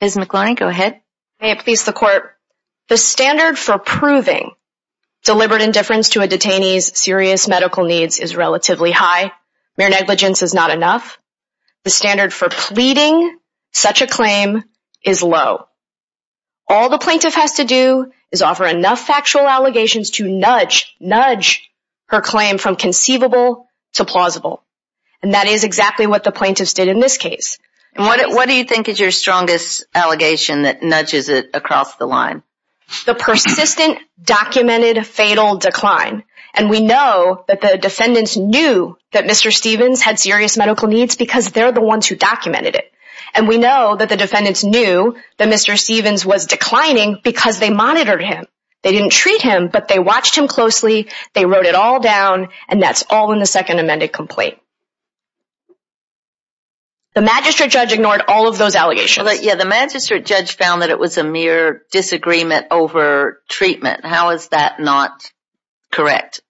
The standard for proving deliberate indifference to a detainee's serious medical needs is relatively high. Mere negligence is not enough. The standard for pleading such a claim is low. All the plaintiff has to do is offer enough factual allegations to nudge her claim from conceivable to plausible. And that is exactly what the plaintiffs did in this case. What do you think is your strongest allegation that nudges it across the line? The persistent, documented, fatal decline. And we know that the defendants knew that Mr. Stevens had serious medical needs because they're the ones who documented it. And we know that the defendants knew that Mr. Stevens was declining because they monitored him. They didn't treat him, but they watched him closely, they wrote it all down, and that's all in the second amended complaint. The magistrate judge ignored all of those allegations. The magistrate judge found that it was a mere disagreement over treatment. How is that not correct?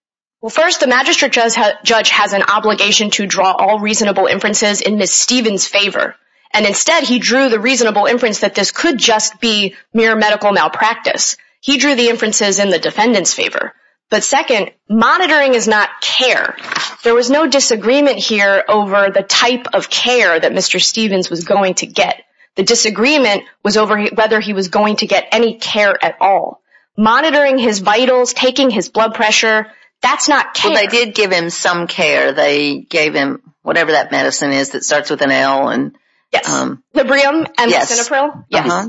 Well, first, the magistrate judge has an obligation to draw all reasonable inferences in Ms. Stevens' favor. And instead, he drew the reasonable inference that this could just be mere medical malpractice. But second, monitoring is not care. There was no disagreement here over the type of care that Mr. Stevens was going to get. The disagreement was over whether he was going to get any care at all. Monitoring his vitals, taking his blood pressure, that's not care. Well, they did give him some care. They gave him whatever that medicine is that starts with an L. Yes. Librium and mesenopril? Yes.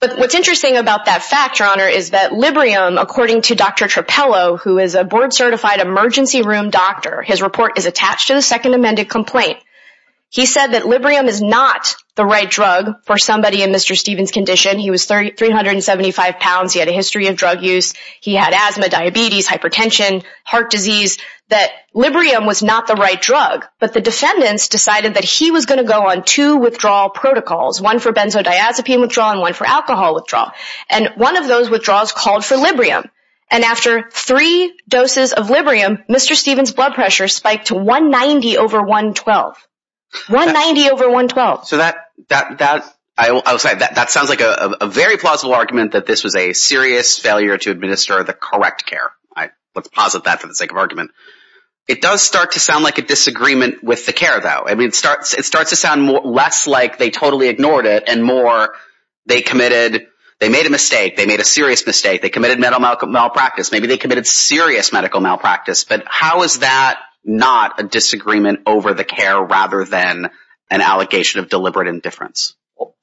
But what's interesting about that fact, Your Honor, is that Librium, according to Dr. Trapello, who is a board-certified emergency room doctor, his report is attached to the second amended complaint. He said that Librium is not the right drug for somebody in Mr. Stevens' condition. He was 375 pounds. He had a history of drug use. He had asthma, diabetes, hypertension, heart disease, that Librium was not the right drug. But the defendants decided that he was going to go on two withdrawal protocols, one for benzodiazepine withdrawal and one for alcohol withdrawal. And one of those withdrawals called for Librium. And after three doses of Librium, Mr. Stevens' blood pressure spiked to 190 over 112. 190 over 112. So that sounds like a very plausible argument that this was a serious failure to administer the correct care. Let's posit that for the sake of argument. It does start to sound like a disagreement with the care, though. It starts to sound less like they totally ignored it and more they made a mistake. They made a serious mistake. They committed medical malpractice. Maybe they committed serious medical malpractice. But how is that not a disagreement over the care rather than an allegation of deliberate indifference?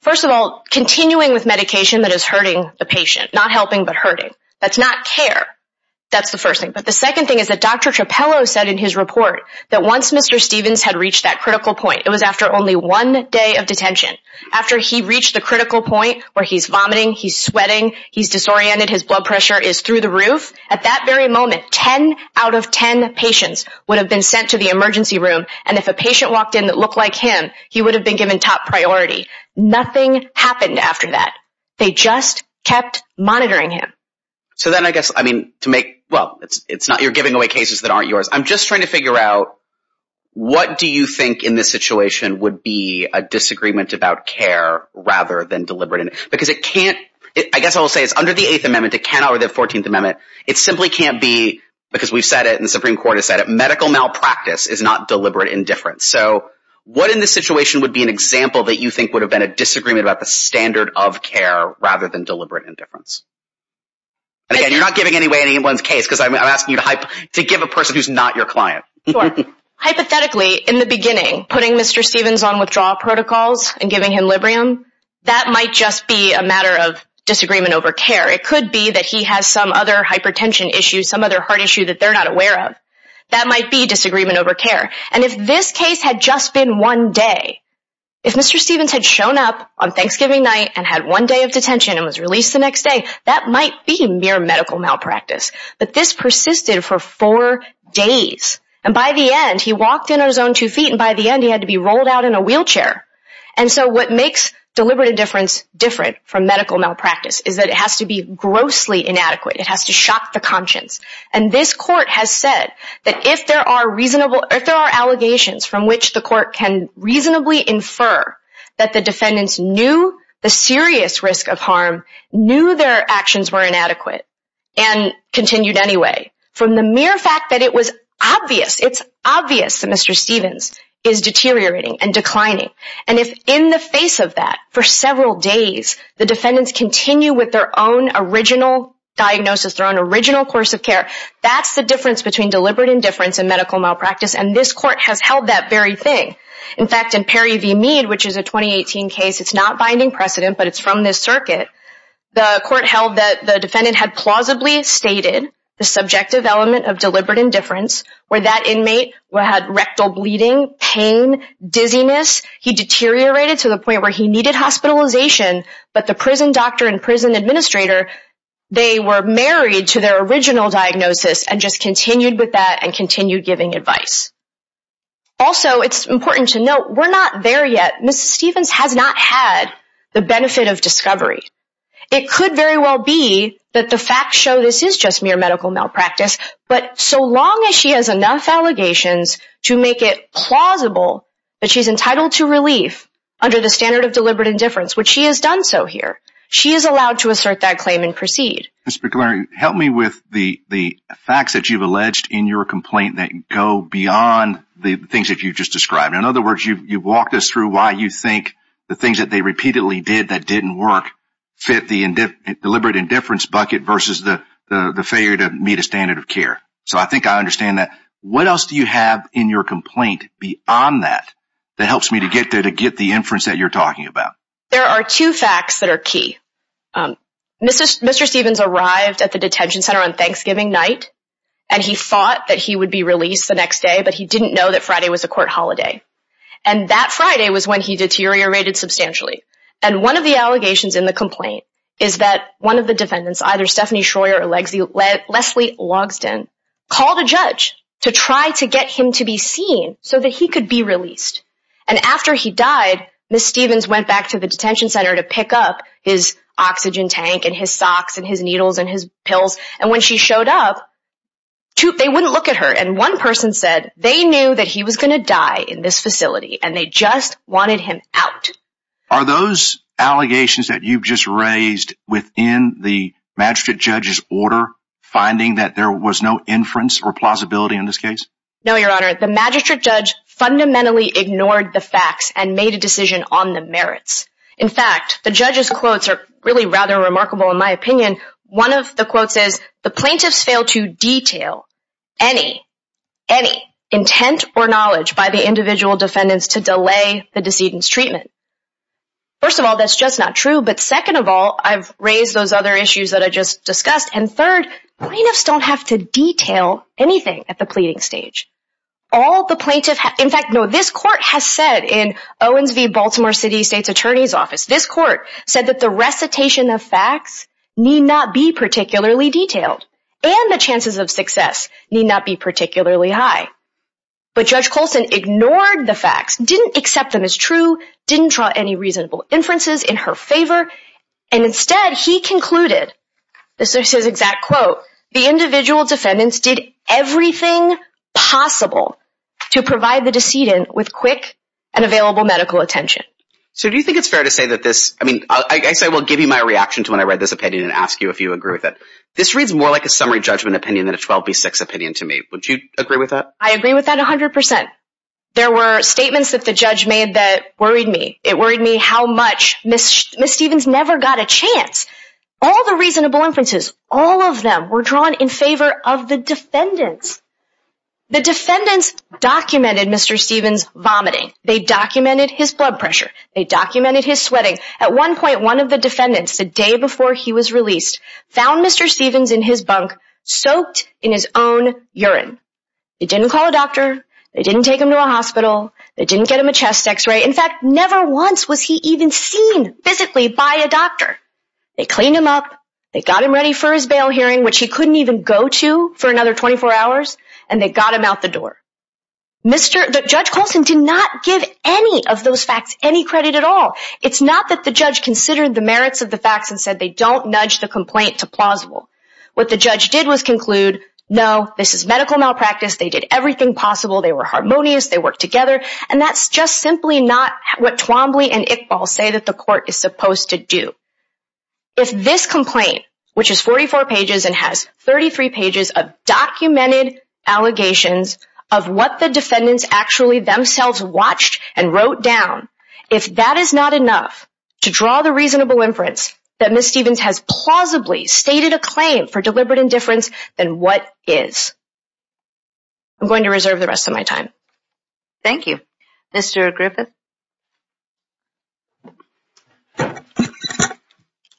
First of all, continuing with medication that is hurting the patient, not helping but hurting. That's not care. That's the first thing. But the second thing is that Dr. Trapello said in his report that once Mr. Stevens had reached that critical point, it was after only one day of detention. After he reached the critical point where he's vomiting, he's sweating, he's disoriented, his blood pressure is through the roof, at that very moment, 10 out of 10 patients would have been sent to the emergency room. And if a patient walked in that looked like him, he would have been given top priority. Nothing happened after that. They just kept monitoring him. So then I guess, I mean, to make, well, it's not you're giving away cases that aren't yours. I'm just trying to figure out what do you think in this situation would be a disagreement about care rather than deliberate indifference? Because it can't, I guess I will say it's under the Eighth Amendment, it can't be under the Fourteenth Amendment. It simply can't be, because we've said it and the Supreme Court has said it, medical malpractice is not deliberate indifference. So what in this situation would be an example that you think would have been a disagreement about the standard of care rather than deliberate indifference? And again, you're not giving away anyone's case, because I'm asking you to give a person who's not your client. Sure. Hypothetically, in the beginning, putting Mr. Stevens on withdrawal protocols and giving him Librium, that might just be a matter of disagreement over care. It could be that he has some other hypertension issue, some other heart issue that they're not aware of. That might be disagreement over care. And if this case had just been one day, if Mr. Stevens had shown up on Thanksgiving night and had one day of detention and was released the next day, that might be mere medical malpractice. But this persisted for four days. And by the end, he walked in on his own two feet, and by the end he had to be rolled out in a wheelchair. And so what makes deliberate indifference different from medical malpractice is that it has to be grossly inadequate. It has to shock the conscience. And this court has said that if there are allegations from which the court can reasonably infer that the defendants knew the serious risk of harm, knew their actions were inadequate, and continued anyway, from the mere fact that it was obvious, it's obvious that Mr. Stevens is deteriorating and declining. And if in the face of that, for several days, the defendants continue with their own original diagnosis, their own original course of care, that's the difference between deliberate indifference and medical malpractice. And this court has held that very thing. In fact, in Perry v. Mead, which is a 2018 case, it's not binding precedent, but it's from this circuit, the court held that the defendant had plausibly stated the subjective element of deliberate indifference, where that inmate had rectal bleeding, pain, dizziness. He deteriorated to the point where he needed hospitalization, but the prison doctor and prison administrator, they were married to their original diagnosis and just continued with that and continued giving advice. Also, it's important to note, we're not there yet. Mr. Stevens has not had the benefit of discovery. It could very well be that the facts show this is just mere medical malpractice, but so long as she has enough allegations to make it plausible that she's entitled to relief under the standard of deliberate indifference, which she has done so here, she is allowed to assert that claim and proceed. Ms. Piccolari, help me with the facts that you've alleged in your complaint that go beyond the things that you've just described. In other words, you've walked us through why you think the things that they repeatedly did that didn't work fit the deliberate indifference bucket versus the failure to meet a standard of care. So I think I understand that. What else do you have in your complaint beyond that that helps me to get there to get the inference that you're talking about? There are two facts that are key. Mr. Stevens arrived at the detention center on Thanksgiving night, and he thought that he would be released the next day, but he didn't know that Friday was a court holiday. And that Friday was when he deteriorated substantially. And one of the allegations in the complaint is that one of the defendants, either Stephanie Schroer or Leslie Logsdon, called a judge to try to get him to be seen so that he could be released. And after he died, Ms. Stevens went back to the detention center to pick up his oxygen tank and his socks and his needles and his pills. And when she showed up, they wouldn't look at her. And one person said they knew that he was going to die in this facility, and they just wanted him out. Are those allegations that you've just raised within the magistrate judge's order finding that there was no inference or plausibility in this case? No, Your Honor. The magistrate judge fundamentally ignored the facts and made a decision on the merits. In fact, the judge's quotes are really rather remarkable, in my opinion. One of the quotes says, the plaintiffs fail to detail any, any intent or knowledge by the individual defendants to delay the decedent's treatment. First of all, that's just not true. But second of all, I've raised those other issues that I just discussed. And third, plaintiffs don't have to detail anything at the pleading stage. All the plaintiffs have. In fact, no, this court has said in Owens v. Baltimore City State's Attorney's Office, this court said that the recitation of facts need not be particularly detailed and the chances of success need not be particularly high. But Judge Colson ignored the facts, didn't accept them as true, didn't draw any reasonable inferences in her favor. And instead, he concluded, this is his exact quote, the individual defendants did everything possible to provide the decedent with quick and available medical attention. So do you think it's fair to say that this, I mean, I say we'll give you my reaction to when I read this opinion and ask you if you agree with it. This reads more like a summary judgment opinion than a 12B6 opinion to me. Would you agree with that? I agree with that 100%. There were statements that the judge made that worried me. It worried me how much Ms. Stevens never got a chance. All the reasonable inferences, all of them were drawn in favor of the defendants. The defendants documented Mr. Stevens vomiting. They documented his blood pressure. They documented his sweating. At one point, one of the defendants, the day before he was released, found Mr. Stevens in his bunk, soaked in his own urine. They didn't call a doctor. They didn't take him to a hospital. They didn't get him a chest X-ray. In fact, never once was he even seen physically by a doctor. They cleaned him up. They got him ready for his bail hearing, which he couldn't even go to for another 24 hours. And they got him out the door. Judge Colson did not give any of those facts any credit at all. It's not that the judge considered the merits of the facts and said they don't nudge the complaint to plausible. What the judge did was conclude, no, this is medical malpractice. They did everything possible. They were harmonious. They worked together. And that's just simply not what Twombly and Iqbal say that the court is supposed to do. If this complaint, which is 44 pages and has 33 pages of documented allegations of what the defendants actually themselves watched and wrote down, if that is not enough to draw the reasonable inference that Ms. Stevens has plausibly stated a claim for deliberate indifference, then what is? I'm going to reserve the rest of my time. Thank you. Mr. Griffith. Good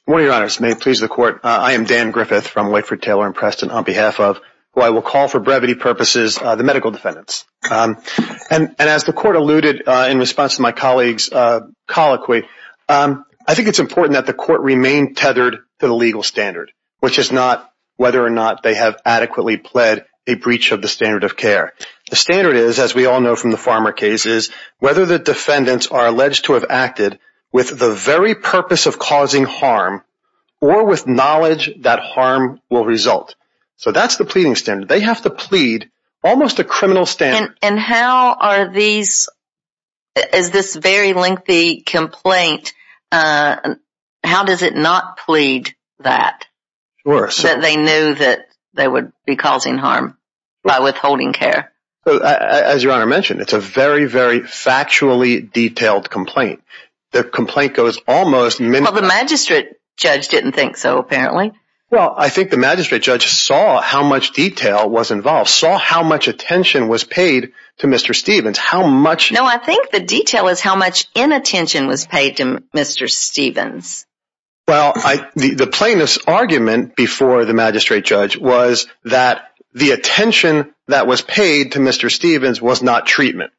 morning, Your Honors. May it please the Court. I am Dan Griffith from Wakeford, Taylor & Preston, on behalf of, who I will call for brevity purposes, the medical defendants. And as the Court alluded in response to my colleague's colloquy, I think it's important that the Court remain tethered to the legal standard, which is not whether or not they have adequately pled a breach of the standard of care. The standard is, as we all know from the Farmer case, is whether the defendants are alleged to have acted with the very purpose of causing harm or with knowledge that harm will result. So that's the pleading standard. They have to plead almost a criminal standard. And how are these, is this very lengthy complaint, how does it not plead that? That they knew that they would be causing harm by withholding care? As Your Honor mentioned, it's a very, very factually detailed complaint. The complaint goes almost… Well, the magistrate judge didn't think so, apparently. Well, I think the magistrate judge saw how much detail was involved, saw how much attention was paid to Mr. Stevens, how much… No, I think the detail is how much inattention was paid to Mr. Stevens. Well, the plaintiff's argument before the magistrate judge was that the attention that was paid to Mr. Stevens was not treatment.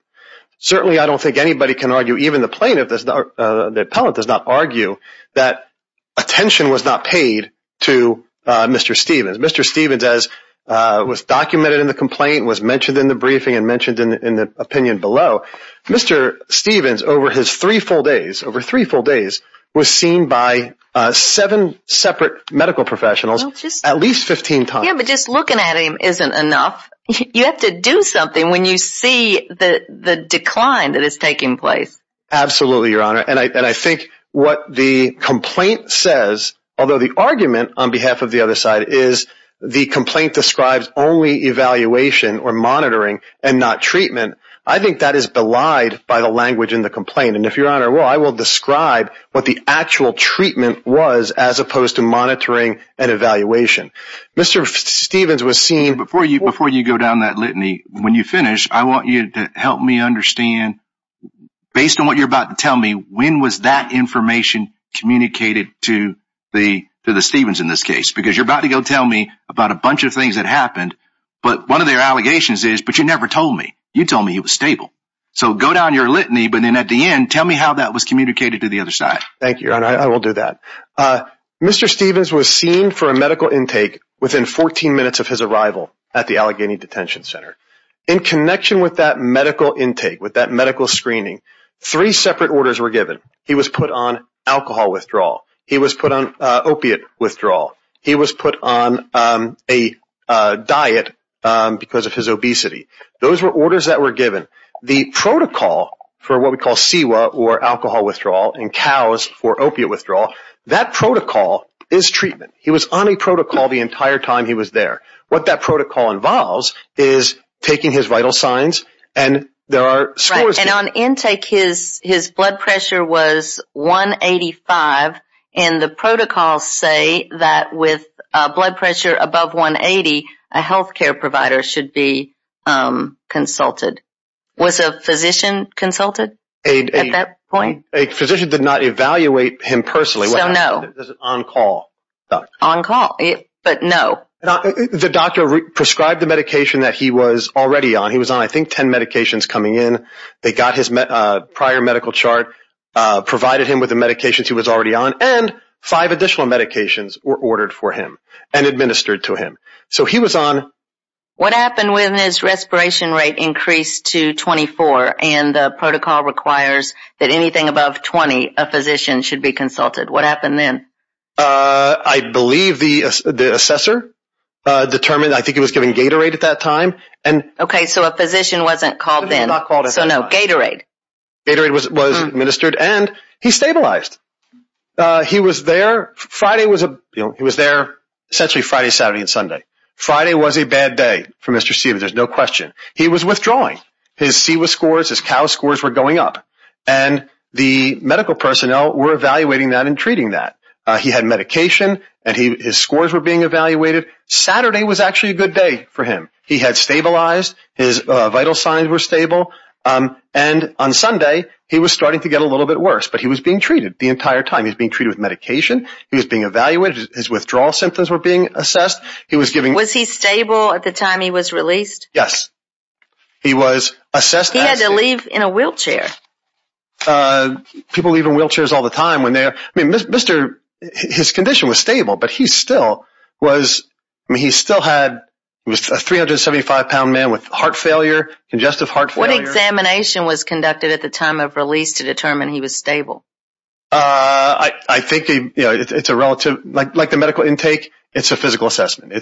Certainly, I don't think anybody can argue, even the plaintiff, the appellate does not argue that attention was not paid to Mr. Stevens. Mr. Stevens, as was documented in the complaint, was mentioned in the briefing and mentioned in the opinion below, Mr. Stevens, over his three full days, over three full days, was seen by seven separate medical professionals at least 15 times. Yeah, but just looking at him isn't enough. You have to do something when you see the decline that is taking place. Absolutely, Your Honor. And I think what the complaint says, although the argument on behalf of the other side is the complaint describes only evaluation or monitoring and not treatment, I think that is belied by the language in the complaint. And if Your Honor will, I will describe what the actual treatment was as opposed to monitoring and evaluation. Mr. Stevens was seen… Before you go down that litany, when you finish, I want you to help me understand, based on what you're about to tell me, when was that information communicated to the Stevens in this case? Because you're about to go tell me about a bunch of things that happened, but one of their allegations is, but you never told me. You told me he was stable. So go down your litany, but then at the end, tell me how that was communicated to the other side. Thank you, Your Honor. I will do that. Mr. Stevens was seen for a medical intake within 14 minutes of his arrival at the Allegheny Detention Center. In connection with that medical intake, with that medical screening, three separate orders were given. He was put on alcohol withdrawal. He was put on opiate withdrawal. He was put on a diet because of his obesity. Those were orders that were given. The protocol for what we call CEWA, or alcohol withdrawal, and COWS for opiate withdrawal, that protocol is treatment. He was on a protocol the entire time he was there. What that protocol involves is taking his vital signs, and there are scores… Was a physician consulted at that point? A physician did not evaluate him personally. So no. It was on call. On call, but no. The doctor prescribed the medication that he was already on. He was on, I think, 10 medications coming in. They got his prior medical chart, provided him with the medications he was already on, and five additional medications were ordered for him and administered to him. So he was on… What happened when his respiration rate increased to 24, and the protocol requires that anything above 20, a physician should be consulted? What happened then? I believe the assessor determined, I think he was given Gatorade at that time. Okay, so a physician wasn't called then. He was not called at that time. So no, Gatorade. Gatorade was administered, and he stabilized. He was there Friday, Saturday, and Sunday. Friday was a bad day for Mr. Siwa. There's no question. He was withdrawing. His Siwa scores, his cow scores were going up, and the medical personnel were evaluating that and treating that. He had medication, and his scores were being evaluated. Saturday was actually a good day for him. He had stabilized. His vital signs were stable, and on Sunday, he was starting to get a little bit worse, but he was being treated the entire time. He was being treated with medication. He was being evaluated. His withdrawal symptoms were being assessed. Was he stable at the time he was released? Yes. He had to leave in a wheelchair. People leave in wheelchairs all the time. His condition was stable, but he still had a 375-pound man with congestive heart failure. What examination was conducted at the time of release to determine he was stable? I think it's a relative. Like the medical intake, it's a physical assessment.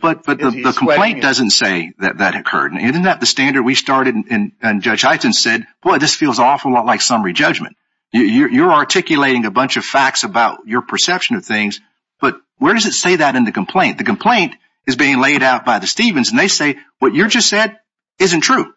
But the complaint doesn't say that that occurred. Isn't that the standard? We started, and Judge Hyten said, boy, this feels an awful lot like summary judgment. You're articulating a bunch of facts about your perception of things, but where does it say that in the complaint? The complaint is being laid out by the Stephens, and they say, what you just said isn't true.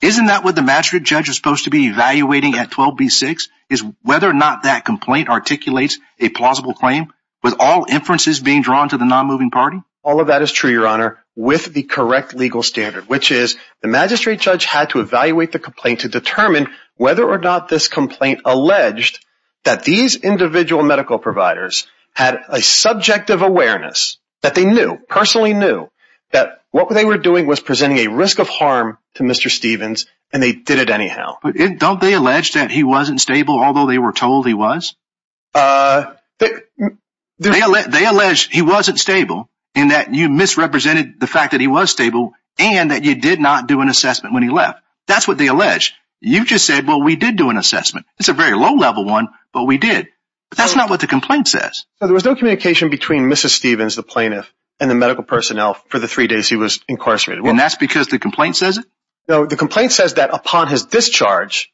Isn't that what the magistrate judge was supposed to be evaluating at 12B6, is whether or not that complaint articulates a plausible claim with all inferences being drawn to the non-moving party? All of that is true, Your Honor, with the correct legal standard, which is the magistrate judge had to evaluate the complaint to determine whether or not this complaint alleged that these individual medical providers had a subjective awareness that they knew, personally knew, that what they were doing was presenting a risk of harm to Mr. Stephens, and they did it anyhow. Don't they allege that he wasn't stable, although they were told he was? They allege he wasn't stable, and that you misrepresented the fact that he was stable, and that you did not do an assessment when he left. That's what they allege. You just said, well, we did do an assessment. It's a very low-level one, but we did. But that's not what the complaint says. There was no communication between Mrs. Stephens, the plaintiff, and the medical personnel for the three days he was incarcerated. And that's because the complaint says it? The complaint says that upon his discharge,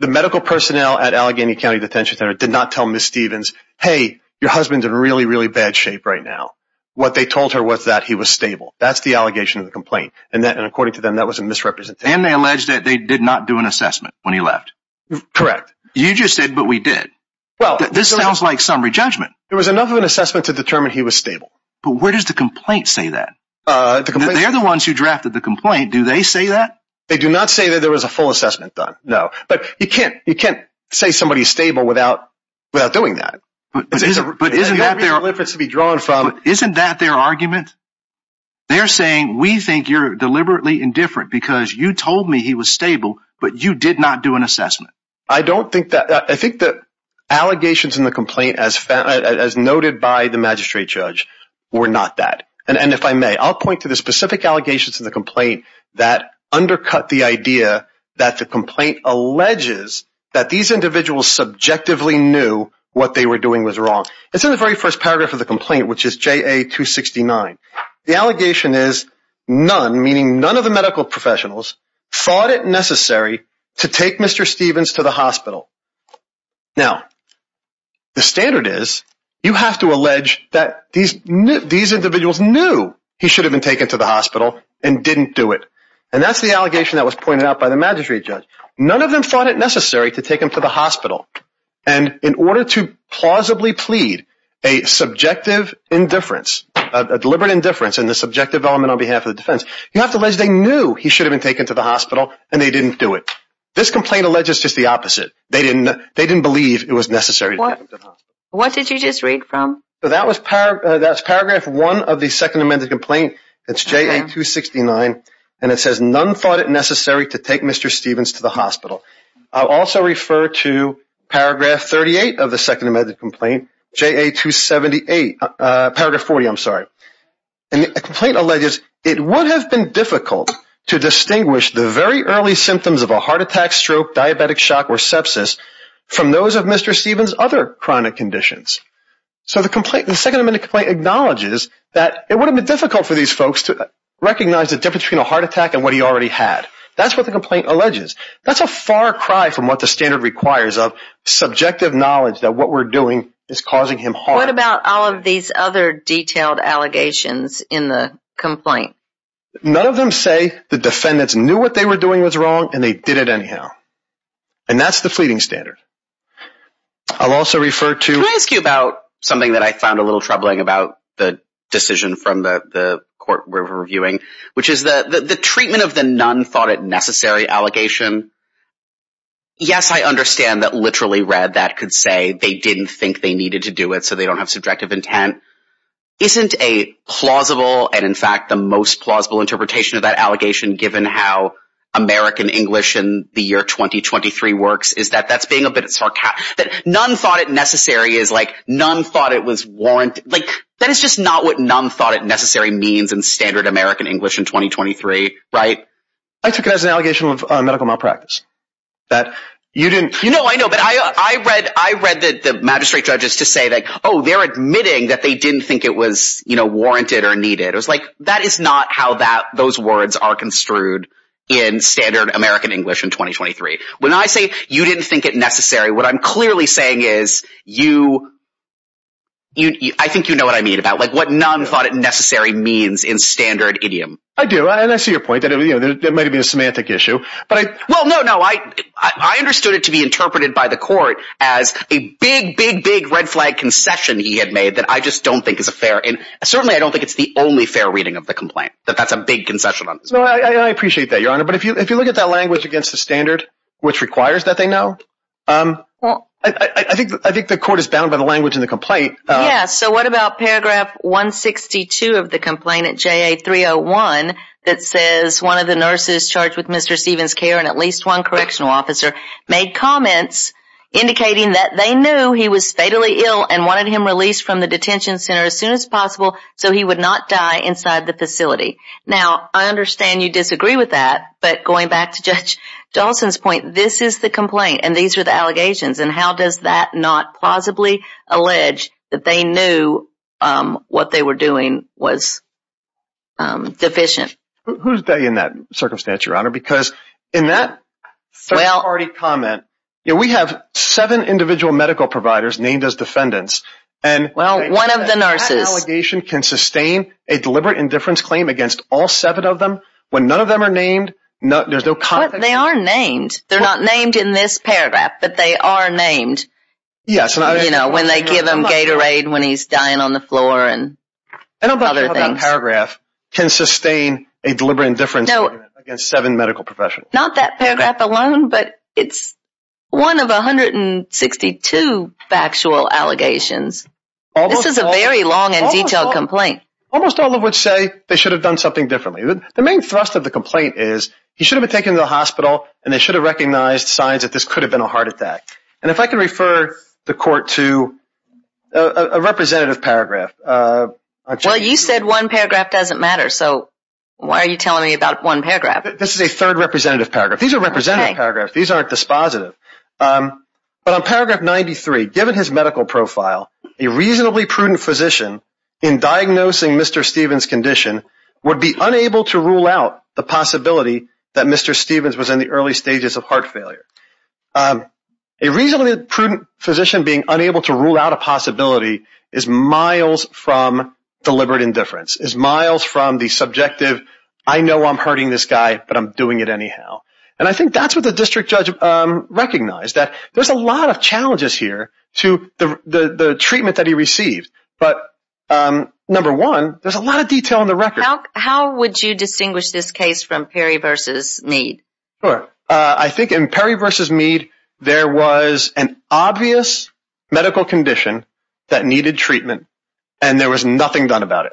the medical personnel at Allegheny County Detention Center did not tell Mrs. Stephens, hey, your husband's in really, really bad shape right now. What they told her was that he was stable. That's the allegation of the complaint, and according to them, that was a misrepresentation. And they allege that they did not do an assessment when he left. Correct. You just said, but we did. This sounds like summary judgment. There was enough of an assessment to determine he was stable. But where does the complaint say that? They're the ones who drafted the complaint. Do they say that? They do not say that there was a full assessment done, no. But you can't say somebody's stable without doing that. But isn't that their argument? They're saying we think you're deliberately indifferent because you told me he was stable, but you did not do an assessment. I think the allegations in the complaint, as noted by the magistrate judge, were not that. And if I may, I'll point to the specific allegations in the complaint that undercut the idea that the complaint alleges that these individuals subjectively knew what they were doing was wrong. It's in the very first paragraph of the complaint, which is JA-269. The allegation is none, meaning none of the medical professionals, thought it necessary to take Mr. Stevens to the hospital. Now, the standard is you have to allege that these individuals knew he should have been taken to the hospital and didn't do it. And that's the allegation that was pointed out by the magistrate judge. None of them thought it necessary to take him to the hospital. And in order to plausibly plead a subjective indifference, a deliberate indifference in the subjective element on behalf of the defense, you have to allege they knew he should have been taken to the hospital and they didn't do it. This complaint alleges just the opposite. They didn't believe it was necessary to take him to the hospital. What did you just read from? That's paragraph one of the Second Amendment complaint. It's JA-269. And it says none thought it necessary to take Mr. Stevens to the hospital. I'll also refer to paragraph 38 of the Second Amendment complaint, JA-278, paragraph 40, I'm sorry. And the complaint alleges it would have been difficult to distinguish the very early symptoms of a heart attack, stroke, diabetic shock, or sepsis from those of Mr. Stevens' other chronic conditions. So the Second Amendment complaint acknowledges that it would have been difficult for these folks to recognize the difference between a heart attack and what he already had. That's what the complaint alleges. That's a far cry from what the standard requires of subjective knowledge that what we're doing is causing him harm. What about all of these other detailed allegations in the complaint? None of them say the defendants knew what they were doing was wrong and they did it anyhow. And that's the fleeting standard. I'll also refer to— Can I ask you about something that I found a little troubling about the decision from the court we're reviewing, which is the treatment of the none thought it necessary allegation? Yes, I understand that literally read that could say they didn't think they needed to do it so they don't have subjective intent. Isn't a plausible and, in fact, the most plausible interpretation of that allegation, given how American English in the year 2023 works, is that that's being a bit sarcastic? That none thought it necessary is like none thought it was warranted. That is just not what none thought it necessary means in standard American English in 2023, right? I took it as an allegation of medical malpractice. You know, I know, but I read the magistrate judges to say that, oh, they're admitting that they didn't think it was warranted or needed. It was like, that is not how those words are construed in standard American English in 2023. When I say you didn't think it necessary, what I'm clearly saying is you—I think you know what I mean about what none thought it necessary means in standard idiom. I do, and I see your point. It might have been a semantic issue, but I— Well, no, no. I understood it to be interpreted by the court as a big, big, big red flag concession he had made that I just don't think is a fair— and certainly I don't think it's the only fair reading of the complaint, that that's a big concession on his part. I appreciate that, Your Honor, but if you look at that language against the standard, which requires that they know, I think the court is bound by the language in the complaint. Yeah, so what about paragraph 162 of the complaint at JA 301 that says one of the nurses charged with Mr. Stevens' care and at least one correctional officer made comments indicating that they knew he was fatally ill and wanted him released from the detention center as soon as possible so he would not die inside the facility. Now, I understand you disagree with that, but going back to Judge Dawson's point, this is the complaint and these are the allegations, and how does that not plausibly allege that they knew what they were doing was deficient? Who's they in that circumstance, Your Honor, because in that third-party comment, we have seven individual medical providers named as defendants. Well, one of the nurses. That allegation can sustain a deliberate indifference claim against all seven of them when none of them are named? They are named. They're not named in this paragraph, but they are named, you know, when they give him Gatorade when he's dying on the floor and other things. And I'm not sure how that paragraph can sustain a deliberate indifference against seven medical professionals. Not that paragraph alone, but it's one of 162 factual allegations. This is a very long and detailed complaint. Almost all of which say they should have done something differently. The main thrust of the complaint is he should have been taken to the hospital and they should have recognized signs that this could have been a heart attack. And if I can refer the Court to a representative paragraph. Well, you said one paragraph doesn't matter, so why are you telling me about one paragraph? This is a third representative paragraph. These are representative paragraphs. These aren't dispositive. But on paragraph 93, given his medical profile, a reasonably prudent physician in diagnosing Mr. Stevens' condition would be unable to rule out the possibility that Mr. Stevens was in the early stages of heart failure. A reasonably prudent physician being unable to rule out a possibility is miles from deliberate indifference. It's miles from the subjective, I know I'm hurting this guy, but I'm doing it anyhow. And I think that's what the district judge recognized, that there's a lot of challenges here to the treatment that he received. But number one, there's a lot of detail in the record. How would you distinguish this case from Perry v. Mead? I think in Perry v. Mead, there was an obvious medical condition that needed treatment and there was nothing done about it.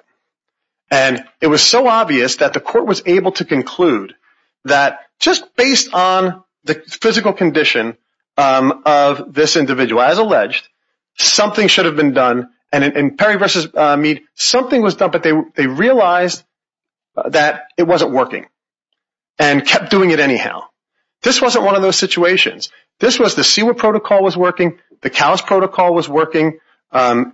And it was so obvious that the court was able to conclude that just based on the physical condition of this individual, as alleged, something should have been done. And in Perry v. Mead, something was done, but they realized that it wasn't working and kept doing it anyhow. This wasn't one of those situations. This was the SEWA protocol was working, the CALS protocol was working, and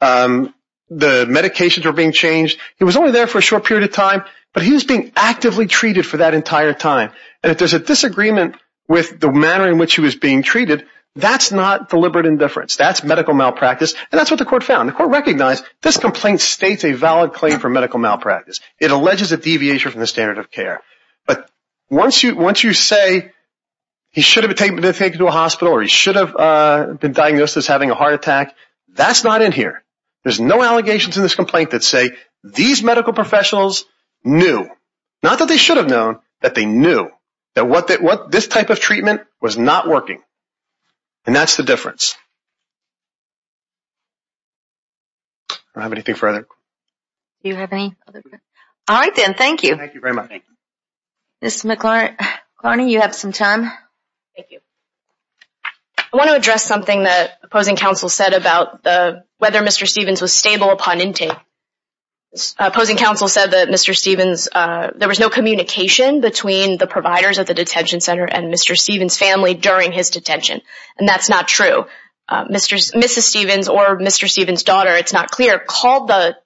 the medications were being changed. He was only there for a short period of time, but he was being actively treated for that entire time. And if there's a disagreement with the manner in which he was being treated, that's not deliberate indifference. That's medical malpractice, and that's what the court found. The court recognized this complaint states a valid claim for medical malpractice. It alleges a deviation from the standard of care. But once you say he should have been taken to a hospital or he should have been diagnosed as having a heart attack, that's not in here. There's no allegations in this complaint that say these medical professionals knew. Not that they should have known, but they knew that this type of treatment was not working. And that's the difference. I don't have anything further. Do you have any other questions? All right then, thank you. Thank you very much. Ms. McLarney, you have some time. Thank you. I want to address something that opposing counsel said about whether Mr. Stevens was stable upon intake. Opposing counsel said that Mr. Stevens, there was no communication between the providers at the detention center and Mr. Stevens' family during his detention, and that's not true. Mrs. Stevens or Mr. Stevens' daughter, it's not clear, called the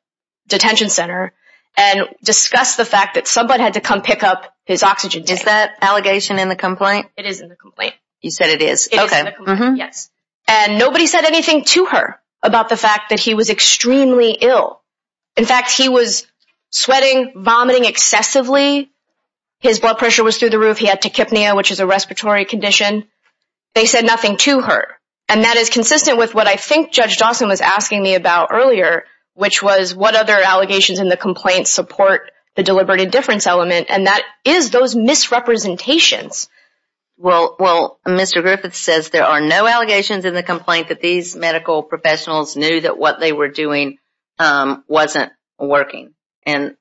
detention center and discussed the fact that someone had to come pick up his oxygen tank. Is that allegation in the complaint? It is in the complaint. You said it is. It is in the complaint, yes. And nobody said anything to her about the fact that he was extremely ill. In fact, he was sweating, vomiting excessively. His blood pressure was through the roof. He had tachypnea, which is a respiratory condition. They said nothing to her, and that is consistent with what I think Judge Dawson was asking me about earlier, which was what other allegations in the complaint support the deliberate indifference element, and that is those misrepresentations. Well, Mr. Griffiths says there are no allegations in the complaint that these medical professionals knew that what they were doing wasn't working, and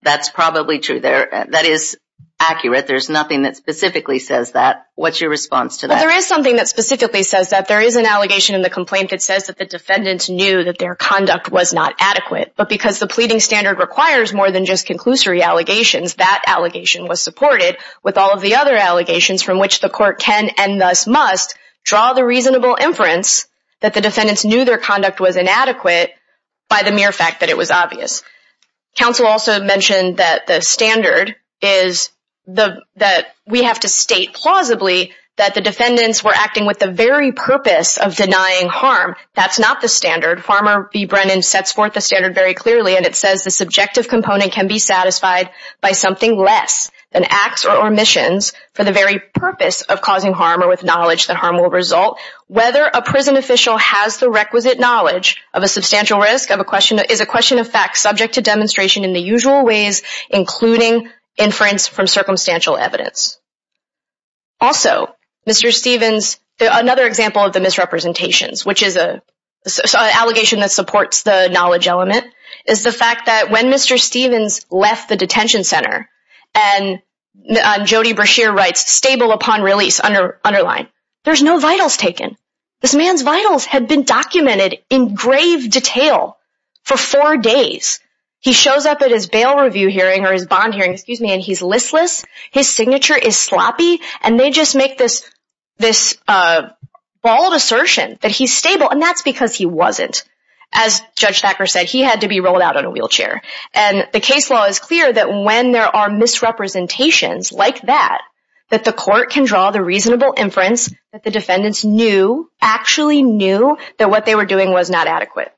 that's probably true. That is accurate. There's nothing that specifically says that. What's your response to that? Well, there is something that specifically says that. There is an allegation in the complaint that says that the defendants knew that their conduct was not adequate, but because the pleading standard requires more than just conclusory allegations, that allegation was supported with all of the other allegations from which the court can and thus must draw the reasonable inference that the defendants knew their conduct was inadequate by the mere fact that it was obvious. Counsel also mentioned that the standard is that we have to state plausibly that the defendants were acting with the very purpose of denying harm. That's not the standard. Farmer B. Brennan sets forth the standard very clearly, and it says the subjective component can be satisfied by something less than acts or omissions for the very purpose of causing harm or with knowledge that harm will result. Whether a prison official has the requisite knowledge of a substantial risk is a question of fact, subject to demonstration in the usual ways, including inference from circumstantial evidence. Also, Mr. Stevens, another example of the misrepresentations, which is an allegation that supports the knowledge element, is the fact that when Mr. Stevens left the detention center, and Jody Brashear writes, stable upon release, underline, there's no vitals taken. This man's vitals had been documented in grave detail for four days. He shows up at his bail review hearing or his bond hearing, and he's listless. His signature is sloppy, and they just make this bald assertion that he's stable, and that's because he wasn't. As Judge Thacker said, he had to be rolled out on a wheelchair. And the case law is clear that when there are misrepresentations like that, that the court can draw the reasonable inference that the defendants knew, actually knew, that what they were doing was not adequate.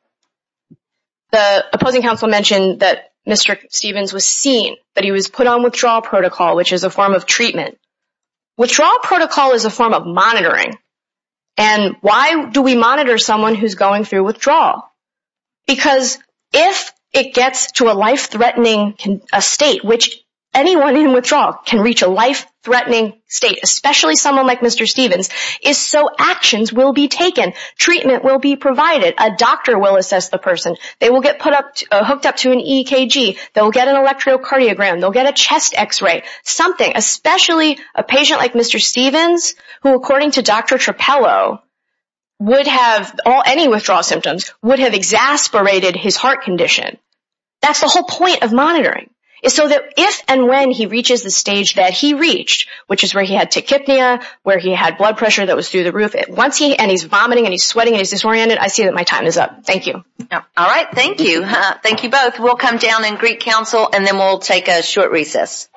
The opposing counsel mentioned that Mr. Stevens was seen, that he was put on withdrawal protocol, which is a form of treatment. Withdrawal protocol is a form of monitoring. And why do we monitor someone who's going through withdrawal? Because if it gets to a life-threatening state, which anyone in withdrawal can reach a life-threatening state, especially someone like Mr. Stevens, is so actions will be taken. Treatment will be provided. A doctor will assess the person. They will get hooked up to an EKG. They'll get an electrocardiogram. They'll get a chest X-ray, something, especially a patient like Mr. Stevens, who, according to Dr. Trapello, would have, any withdrawal symptoms, would have exasperated his heart condition. That's the whole point of monitoring, is so that if and when he reaches the stage that he reached, which is where he had tachypnea, where he had blood pressure that was through the roof, and he's vomiting and he's sweating and he's disoriented, I see that my time is up. Thank you. All right. Thank you. Thank you both. We'll come down and greet counsel, and then we'll take a short recess.